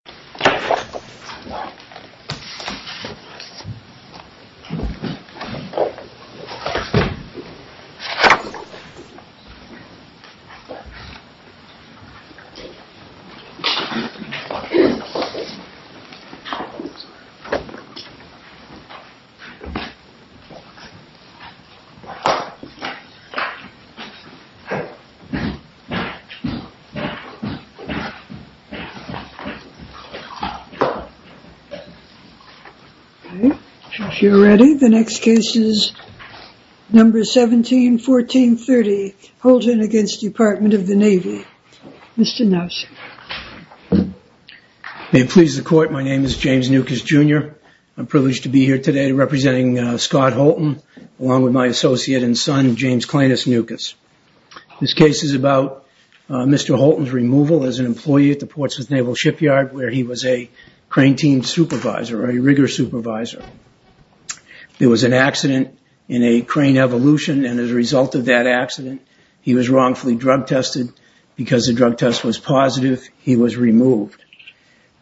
James Nukas Jr. May it please the court, my name is James Nukas Jr. I'm privileged to be here today representing Scott Holton, along with my associate and son, James Clayness Nukas. This case is about Mr. Holton's removal as an employee at the Portsmouth Naval Shipyard where he was a crane team supervisor, a rigor supervisor. There was an accident in a crane evolution and as a result of that accident, he was wrongfully drug tested. Because the drug test was positive, he was removed.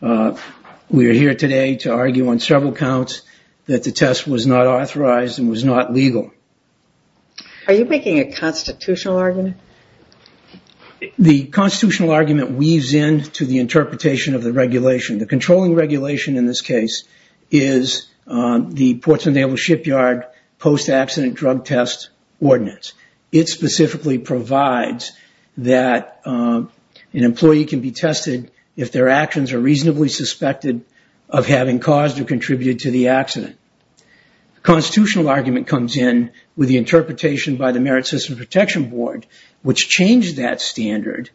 We are here today to argue on several counts that the test was not authorized and was not legal. Are you making a constitutional argument? The constitutional argument weaves in to the interpretation of the regulation. The controlling regulation in this case is the Portsmouth Naval Shipyard post-accident drug test ordinance. It specifically provides that an employee can be tested if their actions are reasonably suspected of having caused or contributed to the accident. The constitutional argument comes in with the interpretation by the Merit System Protection Board, which changed that standard.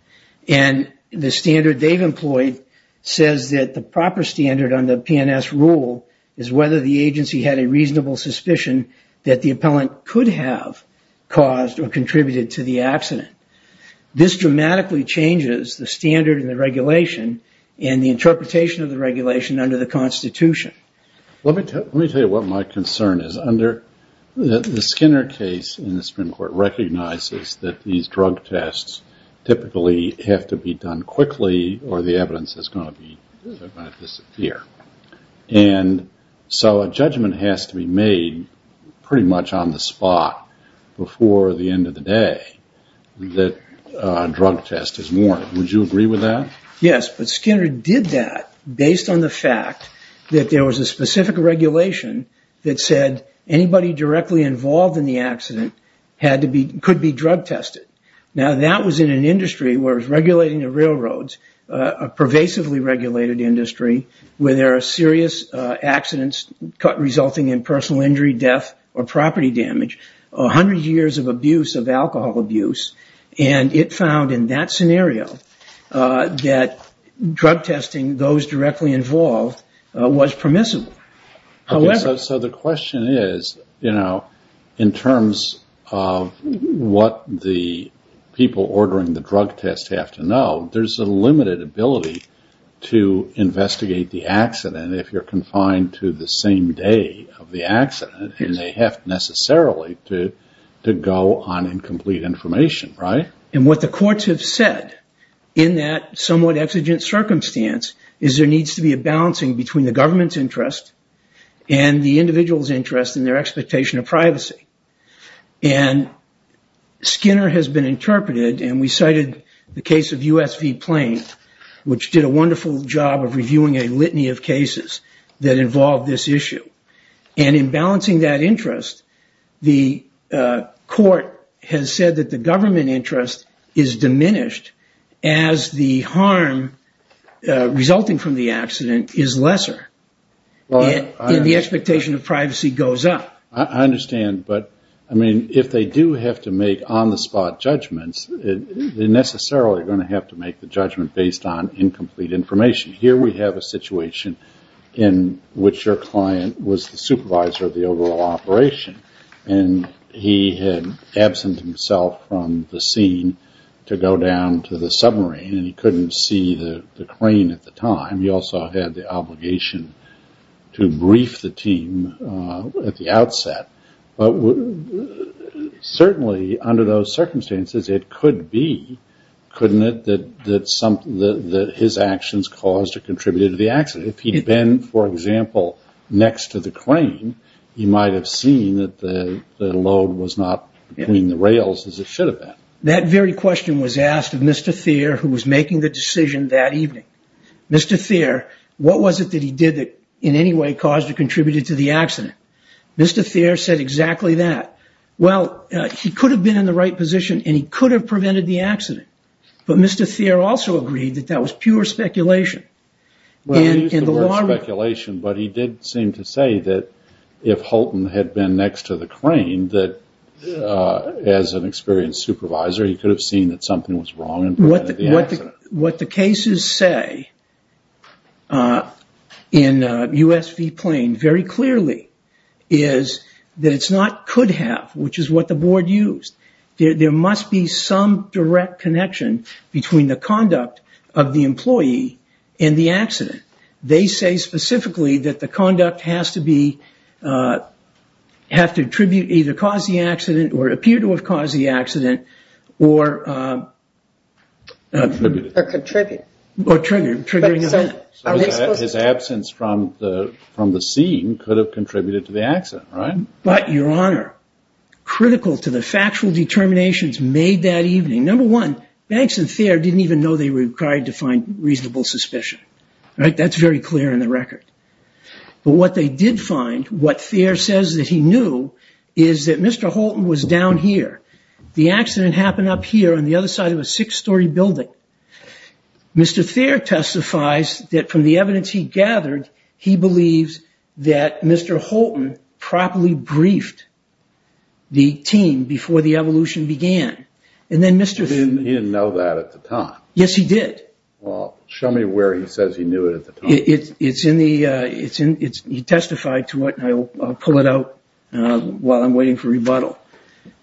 The standard they've employed says that the proper standard on the PNS rule is whether the agency had a reasonable suspicion that the appellant could have caused or contributed to the accident. This dramatically changes the standard in the regulation and the interpretation of the regulation under the Constitution. Let me tell you what my concern is. The Skinner case in the Supreme Court recognizes that these drug tests typically have to be done quickly or the evidence is going to disappear. A judgment has to be made pretty much on the spot before the end of the day that a drug test is warranted. Would you agree with that? Yes, but Skinner did that based on the fact that there was a specific regulation that said anybody directly involved in the accident could be drug tested. Now, that was in an industry where it was regulating the railroads, a pervasively regulated industry, where there are serious accidents resulting in personal injury, death, or property damage. Hundreds of years of abuse, of alcohol abuse, and it found in that scenario that drug testing those directly involved was permissible. So the question is, you know, in terms of what the people ordering the drug test have to know, there's a limited ability to investigate the accident if you're confined to the same day of the accident and they have necessarily to go on incomplete information, right? And what the courts have said in that somewhat exigent circumstance is there needs to be a balancing between the government's interest and the individual's interest in their expectation of privacy. And Skinner has been interpreted, and we cited the case of USV Plain, which did a wonderful job of reviewing a litany of cases that involved this issue. And in balancing that interest, the court has said that the government interest is diminished as the harm resulting from the accident is lesser, and the expectation of privacy goes up. I understand, but I mean, if they do have to make on-the-spot judgments, they're necessarily going to have to make the judgment based on incomplete information. Here we have a situation in which your client was the supervisor of the overall operation, and he had absent himself from the scene to go down to the submarine, and he couldn't see the crane at the time. He also had the obligation to brief the team at the outset. But certainly under those circumstances, it could be, couldn't it, that his actions caused or contributed to the accident? If he'd been, for example, next to the crane, he might have seen that the load was not between the rails as it should have been. That very question was asked of Mr. Thayer, who was making the decision that evening. Mr. Thayer, what was it that he did that in any way caused or contributed to the accident? Mr. Thayer said exactly that. Well, he could have been in the right position, and he could have prevented the accident. But Mr. Thayer also agreed that that was pure speculation. Well, he used the word speculation, but he did seem to say that if Holton had been next to the crane, that as an experienced supervisor, he could have seen that something was wrong and prevented the accident. What the cases say in USV Plain very clearly is that it's not could have, which is what the board used. There must be some direct connection between the conduct of the employee and the accident. They say specifically that the conduct has to be, have to attribute either cause the accident or appear to have caused the accident or contribute or trigger. His absence from the scene could have contributed to the accident, right? But, Your Honor, critical to the factual determinations made that evening, number one, Banks and Thayer didn't even know they were required to find reasonable suspicion, right? That's very clear in the record. But what they did find, what Thayer says that he knew, is that Mr. Holton was down here. The accident happened up here on the other side of a six-story building. Mr. Thayer testifies that from the evidence he gathered, he believes that Mr. Holton properly briefed the team before the evolution began. He didn't know that at the time. Yes, he did. Well, show me where he says he knew it at the time. He testified to it, and I'll pull it out while I'm waiting for rebuttal.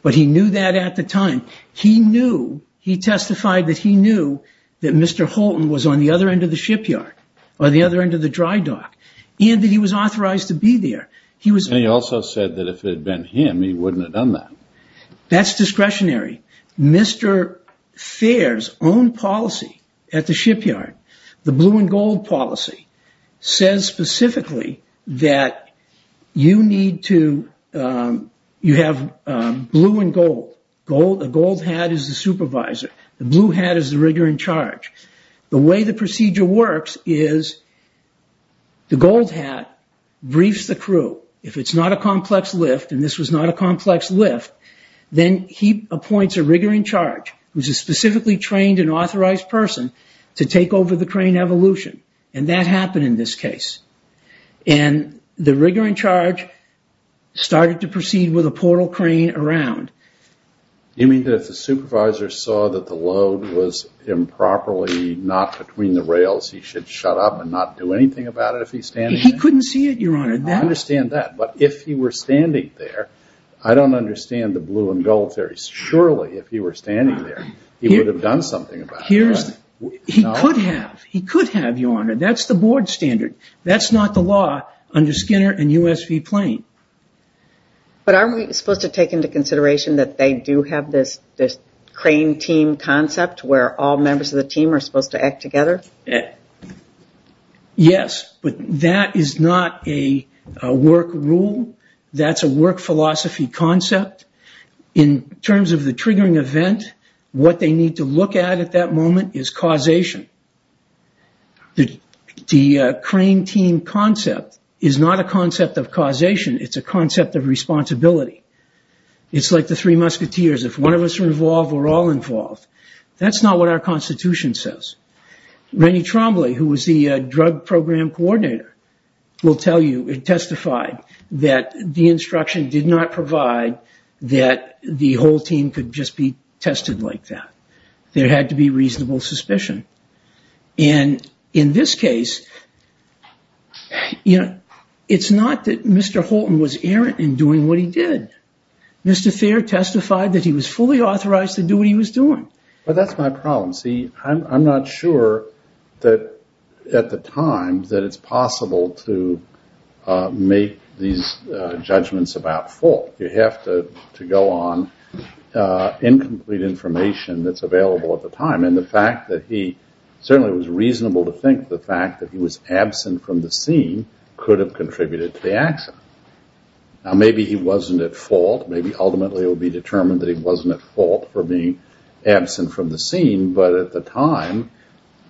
But he knew that at the time. He testified that he knew that Mr. Holton was on the other end of the shipyard or the other end of the dry dock and that he was authorized to be there. He also said that if it had been him, he wouldn't have done that. That's discretionary. Mr. Thayer's own policy at the shipyard, the blue and gold policy, says specifically that you have blue and gold. A gold hat is the supervisor. The blue hat is the rigger in charge. The way the procedure works is the gold hat briefs the crew. If it's not a complex lift, and this was not a complex lift, then he appoints a rigger in charge, who's a specifically trained and authorized person, to take over the crane evolution. And that happened in this case. And the rigger in charge started to proceed with a portal crane around. You mean that if the supervisor saw that the load was improperly not between the rails, he should shut up and not do anything about it if he's standing there? He couldn't see it, Your Honor. I understand that, but if he were standing there, I don't understand the blue and gold theory. Surely, if he were standing there, he would have done something about it. He could have, Your Honor. That's the board standard. That's not the law under Skinner and USV Plain. But aren't we supposed to take into consideration that they do have this crane team concept where all members of the team are supposed to act together? Yes, but that is not a work rule. That's a work philosophy concept. In terms of the triggering event, what they need to look at at that moment is causation. The crane team concept is not a concept of causation. It's a concept of responsibility. It's like the three musketeers. If one of us are involved, we're all involved. That's not what our Constitution says. Rennie Trombley, who was the drug program coordinator, will tell you, it testified that the instruction did not provide that the whole team could just be tested like that. There had to be reasonable suspicion. And in this case, you know, it's not that Mr. Holton was errant in doing what he did. Mr. Thayer testified that he was fully authorized to do what he was doing. Well, that's my problem. See, I'm not sure that at the time that it's possible to make these judgments about fault. You have to go on incomplete information that's available at the time. And the fact that he certainly was reasonable to think the fact that he was absent from the scene could have contributed to the action. Now, maybe he wasn't at fault. Maybe ultimately it will be determined that he wasn't at fault for being absent from the scene. But at the time,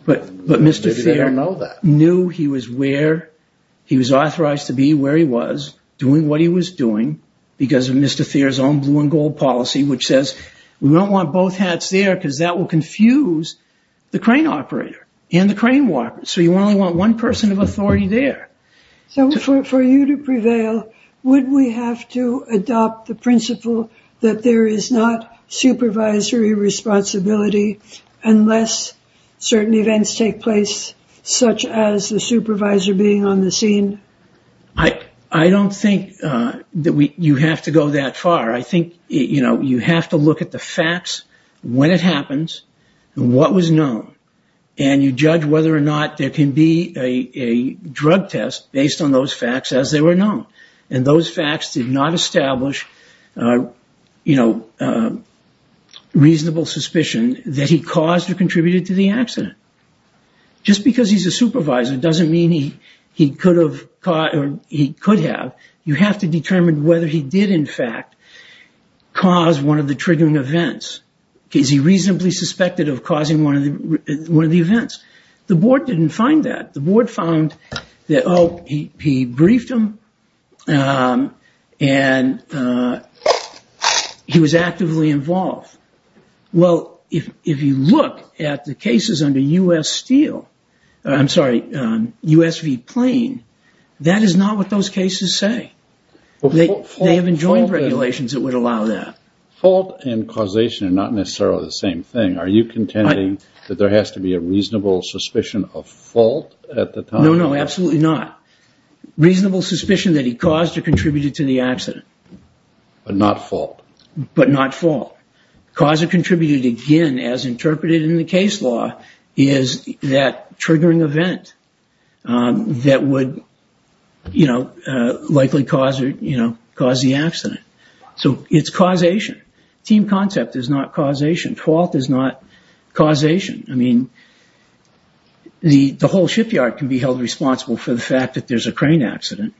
maybe they don't know that. But Mr. Thayer knew he was authorized to be where he was, doing what he was doing, because of Mr. Thayer's own blue and gold policy, which says we don't want both hats there, because that will confuse the crane operator and the crane walker. So you only want one person of authority there. So for you to prevail, would we have to adopt the principle that there is not supervisory responsibility unless certain events take place, such as the supervisor being on the scene? I don't think that you have to go that far. I think, you know, you have to look at the facts, when it happens, what was known, and you judge whether or not there can be a drug test based on those facts as they were known. And those facts did not establish, you know, reasonable suspicion that he caused or contributed to the accident. Just because he's a supervisor doesn't mean he could have. You have to determine whether he did, in fact, cause one of the triggering events. Is he reasonably suspected of causing one of the events? The board didn't find that. The board found that, oh, he briefed him, and he was actively involved. Well, if you look at the cases under U.S. Steel, I'm sorry, U.S.V. Plain, that is not what those cases say. They have enjoined regulations that would allow that. Fault and causation are not necessarily the same thing. Are you contending that there has to be a reasonable suspicion of fault at the time? No, no, absolutely not. Reasonable suspicion that he caused or contributed to the accident. But not fault. But not fault. Cause or contributed, again, as interpreted in the case law, is that triggering event that would, you know, likely cause the accident. So it's causation. Team concept is not causation. Fault is not causation. I mean, the whole shipyard can be held responsible for the fact that there's a crane accident.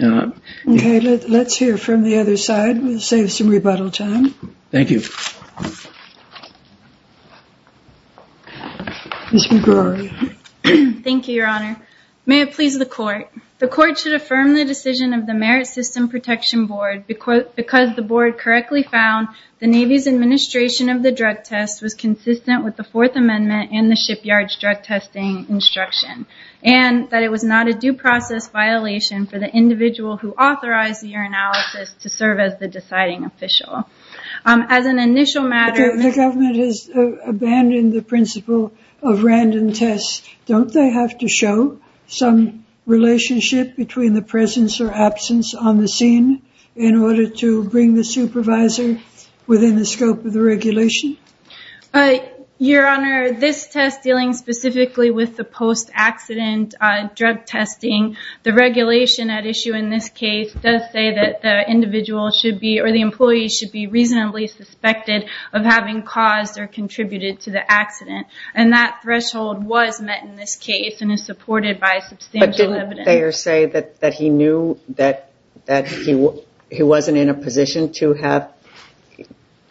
Okay. Let's hear from the other side. We'll save some rebuttal time. Thank you. Thank you, Your Honor. May it please the Court. The Court should affirm the decision of the Merit System Protection Board because the Board correctly found the Navy's administration of the drug test was consistent with the Fourth Amendment and the shipyard's drug testing instruction, and that it was not a due process violation for the individual who authorized the urinalysis to serve as the deciding official. As an initial matter... The government has abandoned the principle of random tests. Don't they have to show some relationship between the presence or absence on the scene in order to bring the supervisor within the scope of the regulation? Your Honor, this test dealing specifically with the post-accident drug testing, the regulation at issue in this case does say that the individual should be, or the employee should be, reasonably suspected of having caused or contributed to the accident. And that threshold was met in this case and is supported by substantial evidence. But didn't Thayer say that he knew that he wasn't in a position to have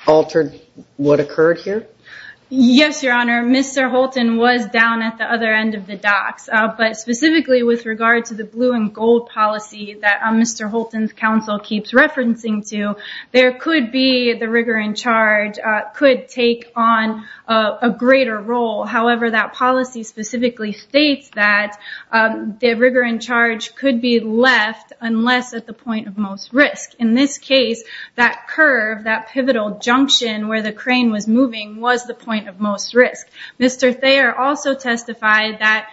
altered what occurred here? Yes, Your Honor. Mr. Holton was down at the other end of the docks. But specifically with regard to the blue and gold policy that Mr. Holton's counsel keeps referencing to, there could be the rigor and charge could take on a greater role. However, that policy specifically states that the rigor and charge could be left unless at the point of most risk. In this case, that curve, that pivotal junction where the crane was moving, was the point of most risk. Mr. Thayer also testified that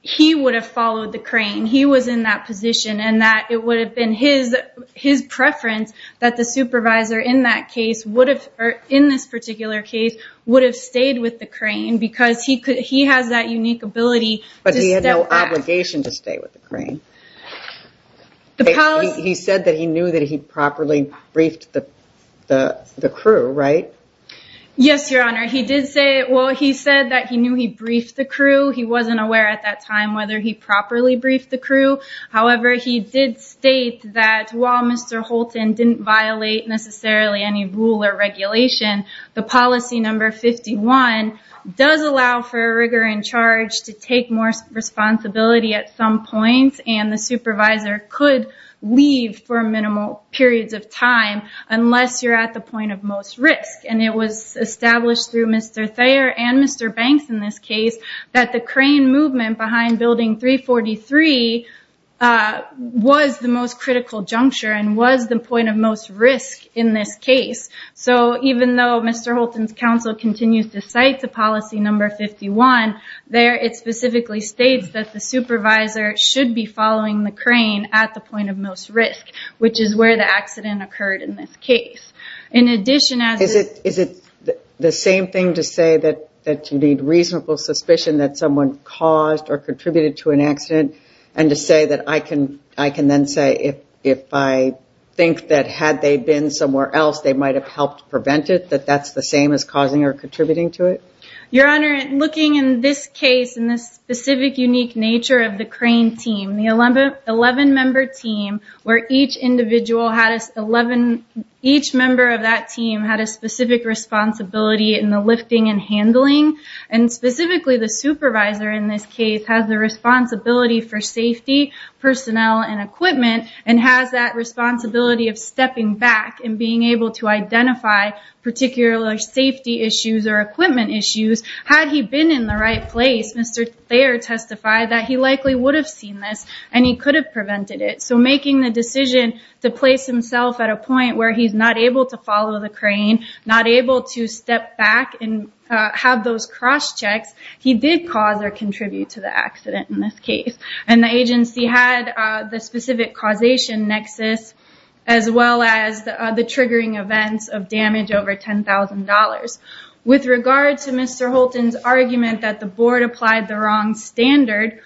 he would have followed the crane. He was in that position and that it would have been his preference that the supervisor in this particular case would have stayed with the crane because he has that unique ability to step back. But he had no obligation to stay with the crane. He said that he knew that he properly briefed the crew, right? Yes, Your Honor. Well, he said that he knew he briefed the crew. He wasn't aware at that time whether he properly briefed the crew. However, he did state that while Mr. Holton didn't violate necessarily any rule or regulation, the policy number 51 does allow for a rigor and charge to take more responsibility at some point. And the supervisor could leave for minimal periods of time unless you're at the point of most risk. And it was established through Mr. Thayer and Mr. Banks in this case that the crane movement behind Building 343 was the most critical juncture and was the point of most risk in this case. So even though Mr. Holton's counsel continues to cite the policy number 51, there it specifically states that the supervisor should be following the crane at the point of most risk, which is where the accident occurred in this case. Is it the same thing to say that you need reasonable suspicion that someone caused or contributed to an accident? And to say that I can then say if I think that had they been somewhere else, they might have helped prevent it, that that's the same as causing or contributing to it? Your Honor, looking in this case, in this specific unique nature of the crane team, the 11-member team where each member of that team had a specific responsibility in the lifting and handling. And specifically the supervisor in this case has the responsibility for safety, personnel, and equipment and has that responsibility of stepping back and being able to identify particular safety issues or equipment issues. Had he been in the right place, Mr. Thayer testified that he likely would have seen this and he could have prevented it. So making the decision to place himself at a point where he's not able to follow the crane, not able to step back and have those cross-checks, he did cause or contribute to the accident in this case. And the agency had the specific causation nexus as well as the triggering events of damage over $10,000. With regard to Mr. Holton's argument that the board applied the wrong standard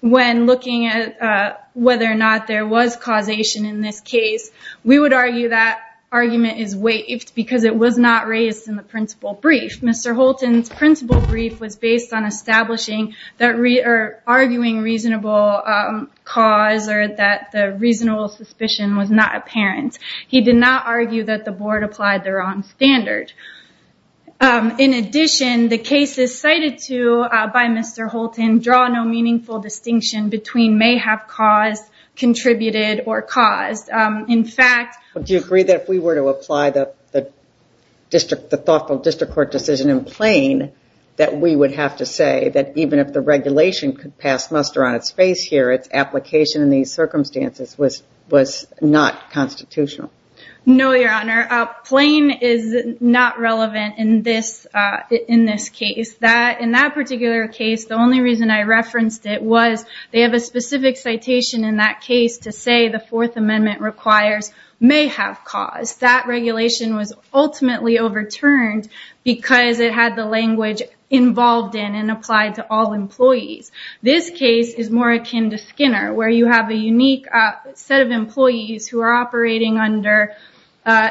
when looking at whether or not there was causation in this case, we would argue that argument is waived because it was not raised in the principal brief. Mr. Holton's principal brief was based on establishing or arguing reasonable cause or that the reasonable suspicion was not apparent. He did not argue that the board applied the wrong standard. In addition, the cases cited by Mr. Holton draw no meaningful distinction between may have caused, contributed, or caused. Do you agree that if we were to apply the thoughtful district court decision in Plain that we would have to say that even if the regulation could pass muster on its face here, its application in these circumstances was not constitutional? No, Your Honor. Plain is not relevant in this case. In that particular case, the only reason I referenced it was they have a specific citation in that case to say the Fourth Amendment requires may have caused. That regulation was ultimately overturned because it had the language involved in and applied to all employees. This case is more akin to Skinner where you have a unique set of employees who are operating under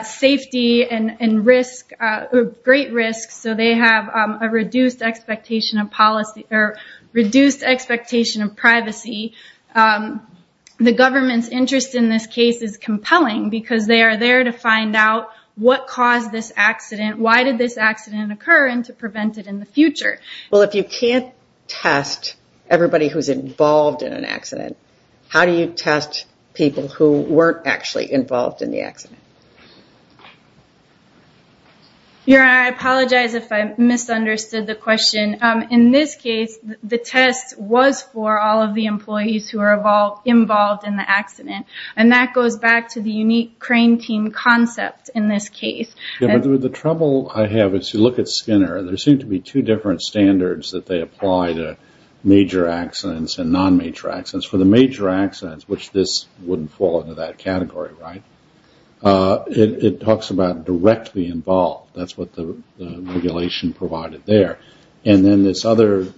safety and great risk so they have a reduced expectation of privacy. The government's interest in this case is compelling because they are there to find out what caused this accident, why did this accident occur, and to prevent it in the future. If you can't test everybody who is involved in an accident, how do you test people who weren't actually involved in the accident? Your Honor, I apologize if I misunderstood the question. In this case, the test was for all of the employees who were involved in the accident. That goes back to the unique crane team concept in this case. The trouble I have is if you look at Skinner, there seem to be two different standards that they apply to major accidents and non-major accidents. For the major accidents, which this wouldn't fall into that category, it talks about directly involved. That's what the regulation provided there. Then this other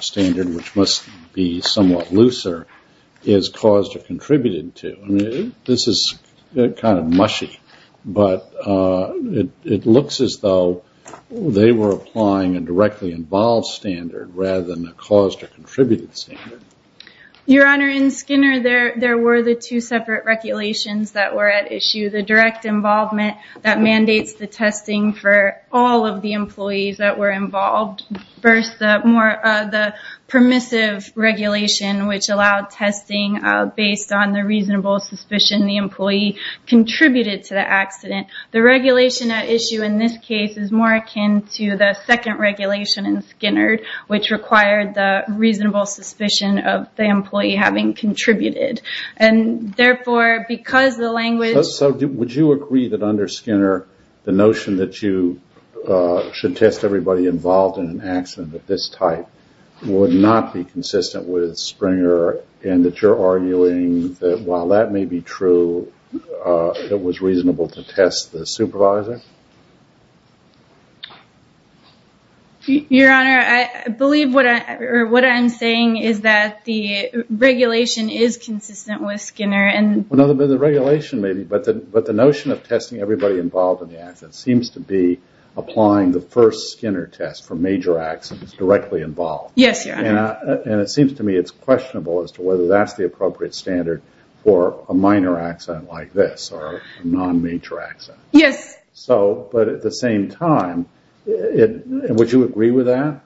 standard, which must be somewhat looser, is caused or contributed to. This is kind of mushy, but it looks as though they were applying a directly involved standard rather than a caused or contributed standard. Your Honor, in Skinner, there were the two separate regulations that were at issue. The direct involvement that mandates the testing for all of the employees that were involved. First, the permissive regulation, which allowed testing based on the reasonable suspicion the employee contributed to the accident. The regulation at issue in this case is more akin to the second regulation in Skinner, which required the reasonable suspicion of the employee having contributed. Therefore, because the language... Would you agree that under Skinner, the notion that you should test everybody involved in an accident of this type would not be consistent with Springer, and that you're arguing that while that may be true, it was reasonable to test the supervisor? Your Honor, I believe what I'm saying is that the regulation is consistent with Skinner. The regulation may be, but the notion of testing everybody involved in the accident seems to be applying the first Skinner test for major accidents directly involved. Yes, Your Honor. It seems to me it's questionable as to whether that's the appropriate standard for a minor accident like this or a non-major accident. Yes. But at the same time, would you agree with that?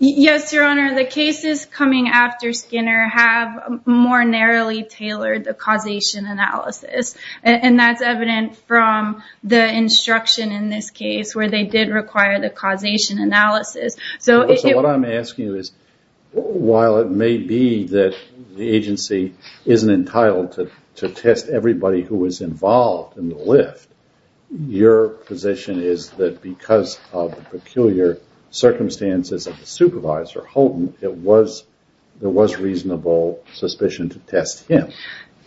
Yes, Your Honor. The cases coming after Skinner have more narrowly tailored the causation analysis, and that's evident from the instruction in this case where they did require the causation analysis. So what I'm asking is, while it may be that the agency isn't entitled to test everybody who was involved in the lift, your position is that because of the peculiar circumstances of the supervisor, Holton, there was reasonable suspicion to test him.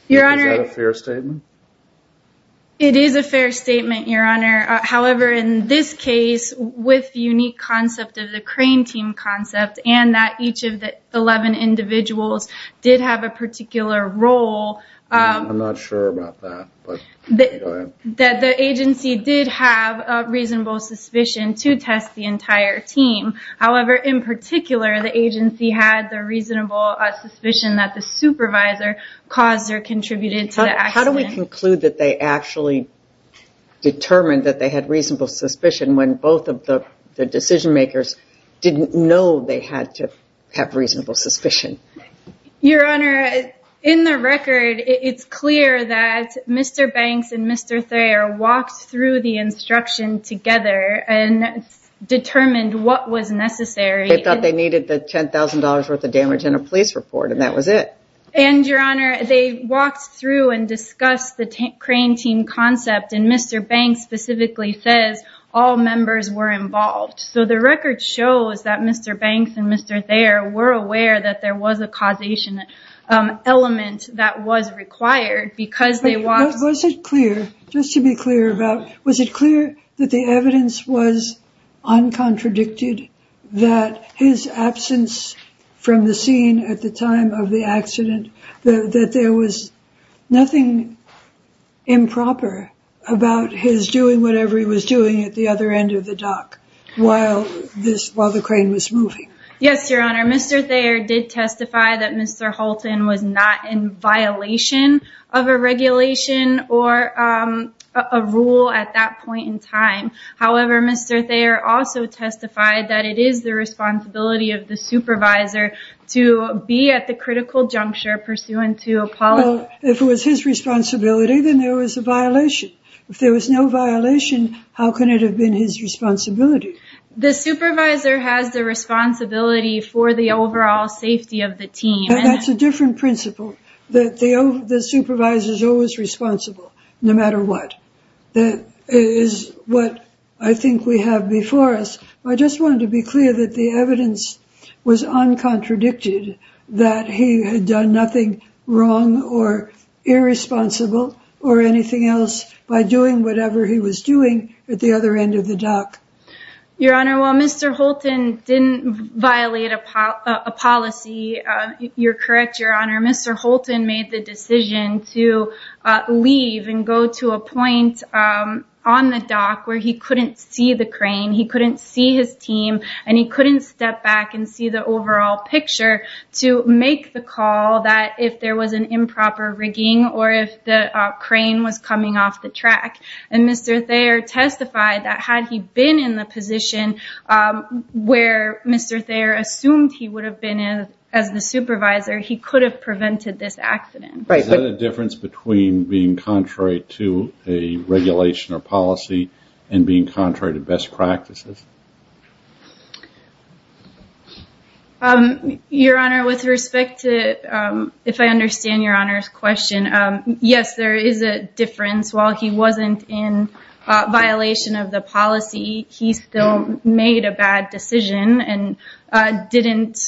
Your Honor... Is that a fair statement? It is a fair statement, Your Honor. However, in this case, with the unique concept of the crane team concept and that each of the 11 individuals did have a particular role... I'm not sure about that, but go ahead. ...that the agency did have a reasonable suspicion to test the entire team. However, in particular, the agency had the reasonable suspicion that the supervisor caused or contributed to the accident. How do we conclude that they actually determined that they had reasonable suspicion when both of the decision makers didn't know they had to have reasonable suspicion? Your Honor, in the record, it's clear that Mr. Banks and Mr. Thayer walked through the instruction together and determined what was necessary. They thought they needed the $10,000 worth of damage in a police report, and that was it. And, Your Honor, they walked through and discussed the crane team concept, and Mr. Banks specifically says all members were involved. So the record shows that Mr. Banks and Mr. Thayer were aware that there was a causation element that was required because they walked... ...that there was nothing improper about his doing whatever he was doing at the other end of the dock while the crane was moving. Yes, Your Honor. Mr. Thayer did testify that Mr. Holton was not in violation of a regulation or a rule at that point in time. However, Mr. Thayer also testified that it is the responsibility of the supervisor to be at the critical juncture pursuant to a policy... Well, if it was his responsibility, then there was a violation. If there was no violation, how could it have been his responsibility? The supervisor has the responsibility for the overall safety of the team. That's a different principle, that the supervisor is always responsible no matter what. That is what I think we have before us. I just wanted to be clear that the evidence was uncontradicted that he had done nothing wrong or irresponsible or anything else by doing whatever he was doing at the other end of the dock. Your Honor, while Mr. Holton didn't violate a policy, you're correct, Your Honor, Mr. Holton made the decision to leave and go to a point on the dock where he couldn't see the crane, he couldn't see his team, and he couldn't step back and see the overall picture to make the call that if there was an improper rigging or if the crane was coming off the track. And Mr. Thayer testified that had he been in the position where Mr. Thayer assumed he would have been as the supervisor, he could have prevented this accident. Is there a difference between being contrary to a regulation or policy and being contrary to best practices? Your Honor, with respect to if I understand Your Honor's question, yes, there is a difference. While he wasn't in violation of the policy, he still made a bad decision and did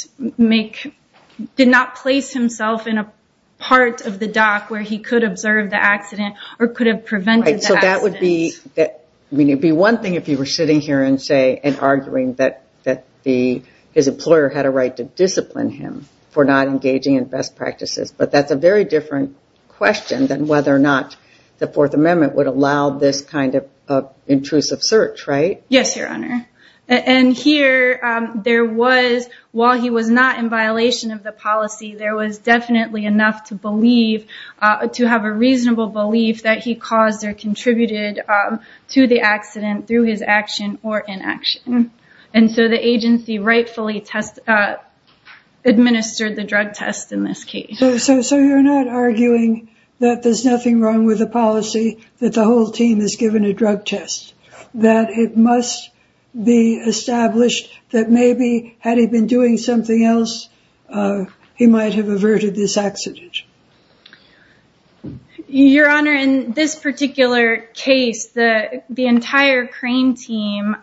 not place himself in a part of the dock where he could observe the accident or could have prevented the accident. It would be one thing if you were sitting here and arguing that his employer had a right to discipline him for not engaging in best practices, but that's a very different question than whether or not the Fourth Amendment would allow this kind of intrusive search, right? Yes, Your Honor. And here, while he was not in violation of the policy, there was definitely enough to have a reasonable belief that he caused or contributed to the accident through his action or inaction. And so the agency rightfully administered the drug test in this case. So you're not arguing that there's nothing wrong with the policy, that the whole team is given a drug test, that it must be established that maybe had he been doing something else, he might have averted this accident. Your Honor, in this particular case, the entire crane team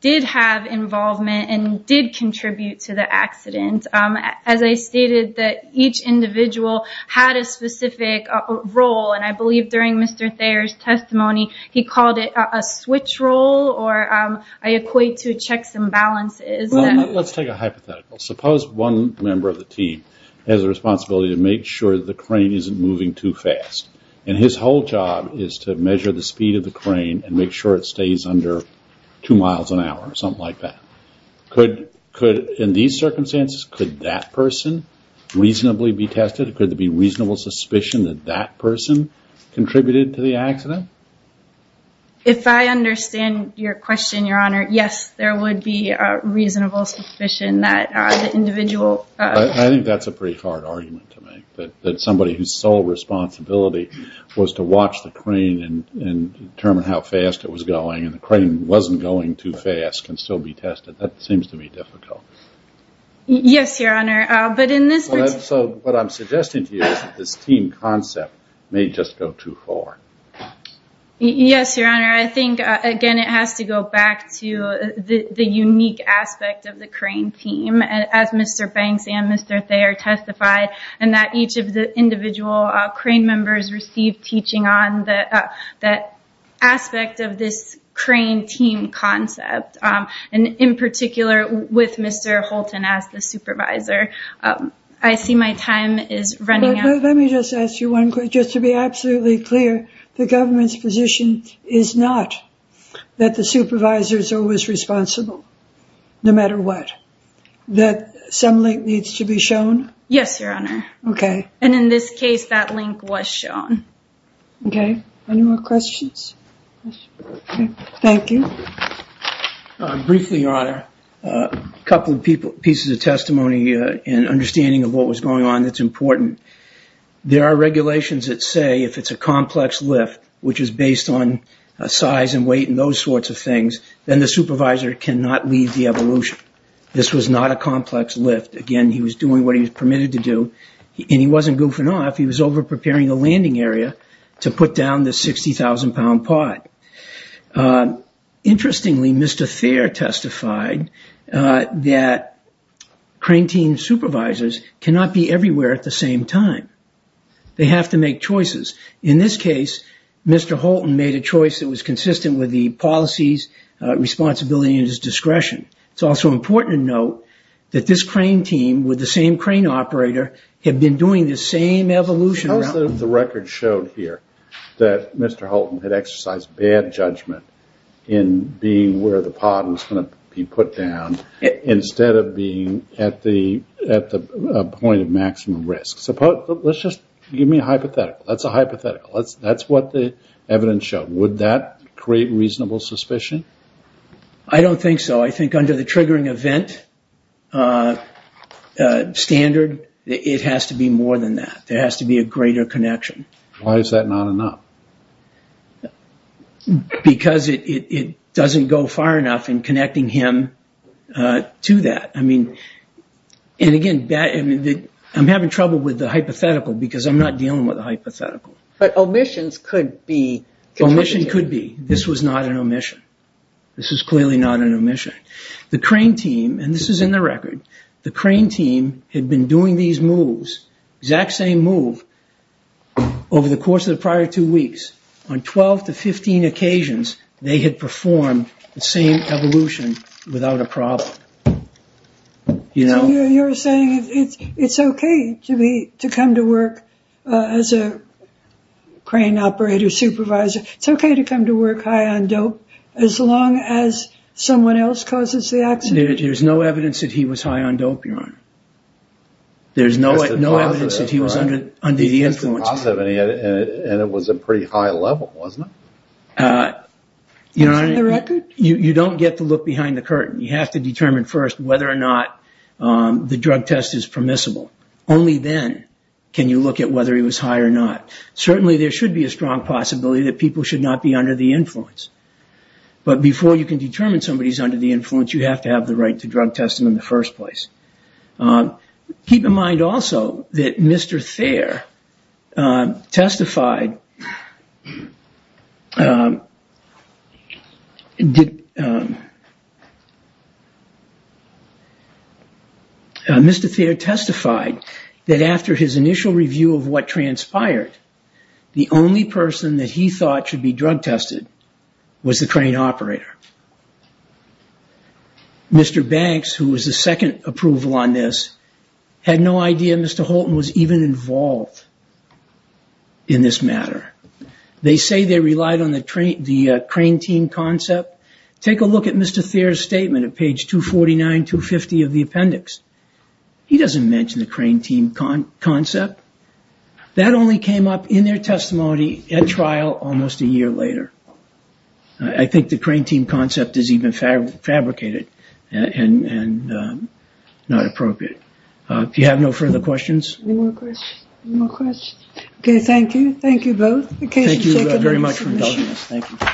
did have involvement and did contribute to the accident. As I stated, each individual had a specific role. And I believe during Mr. Thayer's testimony, he called it a switch role or I equate to checks and balances. Let's take a hypothetical. Suppose one member of the team has a responsibility to make sure the crane isn't moving too fast. And his whole job is to measure the speed of the crane and make sure it stays under two miles an hour or something like that. In these circumstances, could that person reasonably be tested? Could there be reasonable suspicion that that person contributed to the accident? If I understand your question, Your Honor, yes, there would be a reasonable suspicion that the individual... I think that's a pretty hard argument to make, that somebody whose sole responsibility was to watch the crane and determine how fast it was going and the crane wasn't going too fast can still be tested. That seems to be difficult. Yes, Your Honor, but in this... So what I'm suggesting to you is that this team concept may just go too far. Yes, Your Honor. I think, again, it has to go back to the unique aspect of the crane team, as Mr. Banks and Mr. Thayer testified, and that each of the individual crane members received teaching on that aspect of this crane team concept, and in particular with Mr. Holton as the supervisor. I see my time is running out. Let me just ask you one question. Just to be absolutely clear, the government's position is not that the supervisor is always responsible no matter what, that some link needs to be shown? Yes, Your Honor. Okay. And in this case, that link was shown. Okay. Any more questions? Thank you. Briefly, Your Honor, a couple of pieces of testimony and understanding of what was going on that's important. There are regulations that say if it's a complex lift, which is based on size and weight and those sorts of things, then the supervisor cannot lead the evolution. This was not a complex lift. Again, he was doing what he was permitted to do, and he wasn't goofing off. He was over-preparing the landing area to put down the 60,000-pound pod. Interestingly, Mr. Thayer testified that crane team supervisors cannot be everywhere at the same time. They have to make choices. In this case, Mr. Holton made a choice that was consistent with the policy's responsibility and his discretion. It's also important to note that this crane team with the same crane operator had been doing the same evolution. How is it that the record showed here that Mr. Holton had exercised bad judgment in being where the pod was going to be put down instead of being at the point of maximum risk? Let's just give me a hypothetical. That's a hypothetical. That's what the evidence showed. Would that create reasonable suspicion? I don't think so. I think under the triggering event standard, it has to be more than that. There has to be a greater connection. Why is that not enough? Because it doesn't go far enough in connecting him to that. Again, I'm having trouble with the hypothetical because I'm not dealing with a hypothetical. But omissions could be contributing. Well, omission could be. This was not an omission. This is clearly not an omission. The crane team, and this is in the record, the crane team had been doing these moves, exact same move, over the course of the prior two weeks. On 12 to 15 occasions, they had performed the same evolution without a problem. So you're saying it's okay to come to work as a crane operator supervisor. It's okay to come to work high on dope as long as someone else causes the accident? There's no evidence that he was high on dope, Your Honor. There's no evidence that he was under the influence. He tested positive, and it was a pretty high level, wasn't it? That's in the record? You don't get to look behind the curtain. You have to determine first whether or not the drug test is permissible. Only then can you look at whether he was high or not. Certainly there should be a strong possibility that people should not be under the influence. But before you can determine somebody is under the influence, you have to have the right to drug test them in the first place. Keep in mind also that Mr. Thayer testified that after his initial review of what transpired, the only person that he thought should be drug tested was the crane operator. Mr. Banks, who was the second approval on this, had no idea Mr. Holton was even involved in this matter. They say they relied on the crane team concept. Take a look at Mr. Thayer's statement at page 249, 250 of the appendix. He doesn't mention the crane team concept. That only came up in their testimony at trial almost a year later. I think the crane team concept is even fabricated and not appropriate. Do you have no further questions? Any more questions? Okay, thank you. Thank you both. Thank you very much for indulging us. Thank you.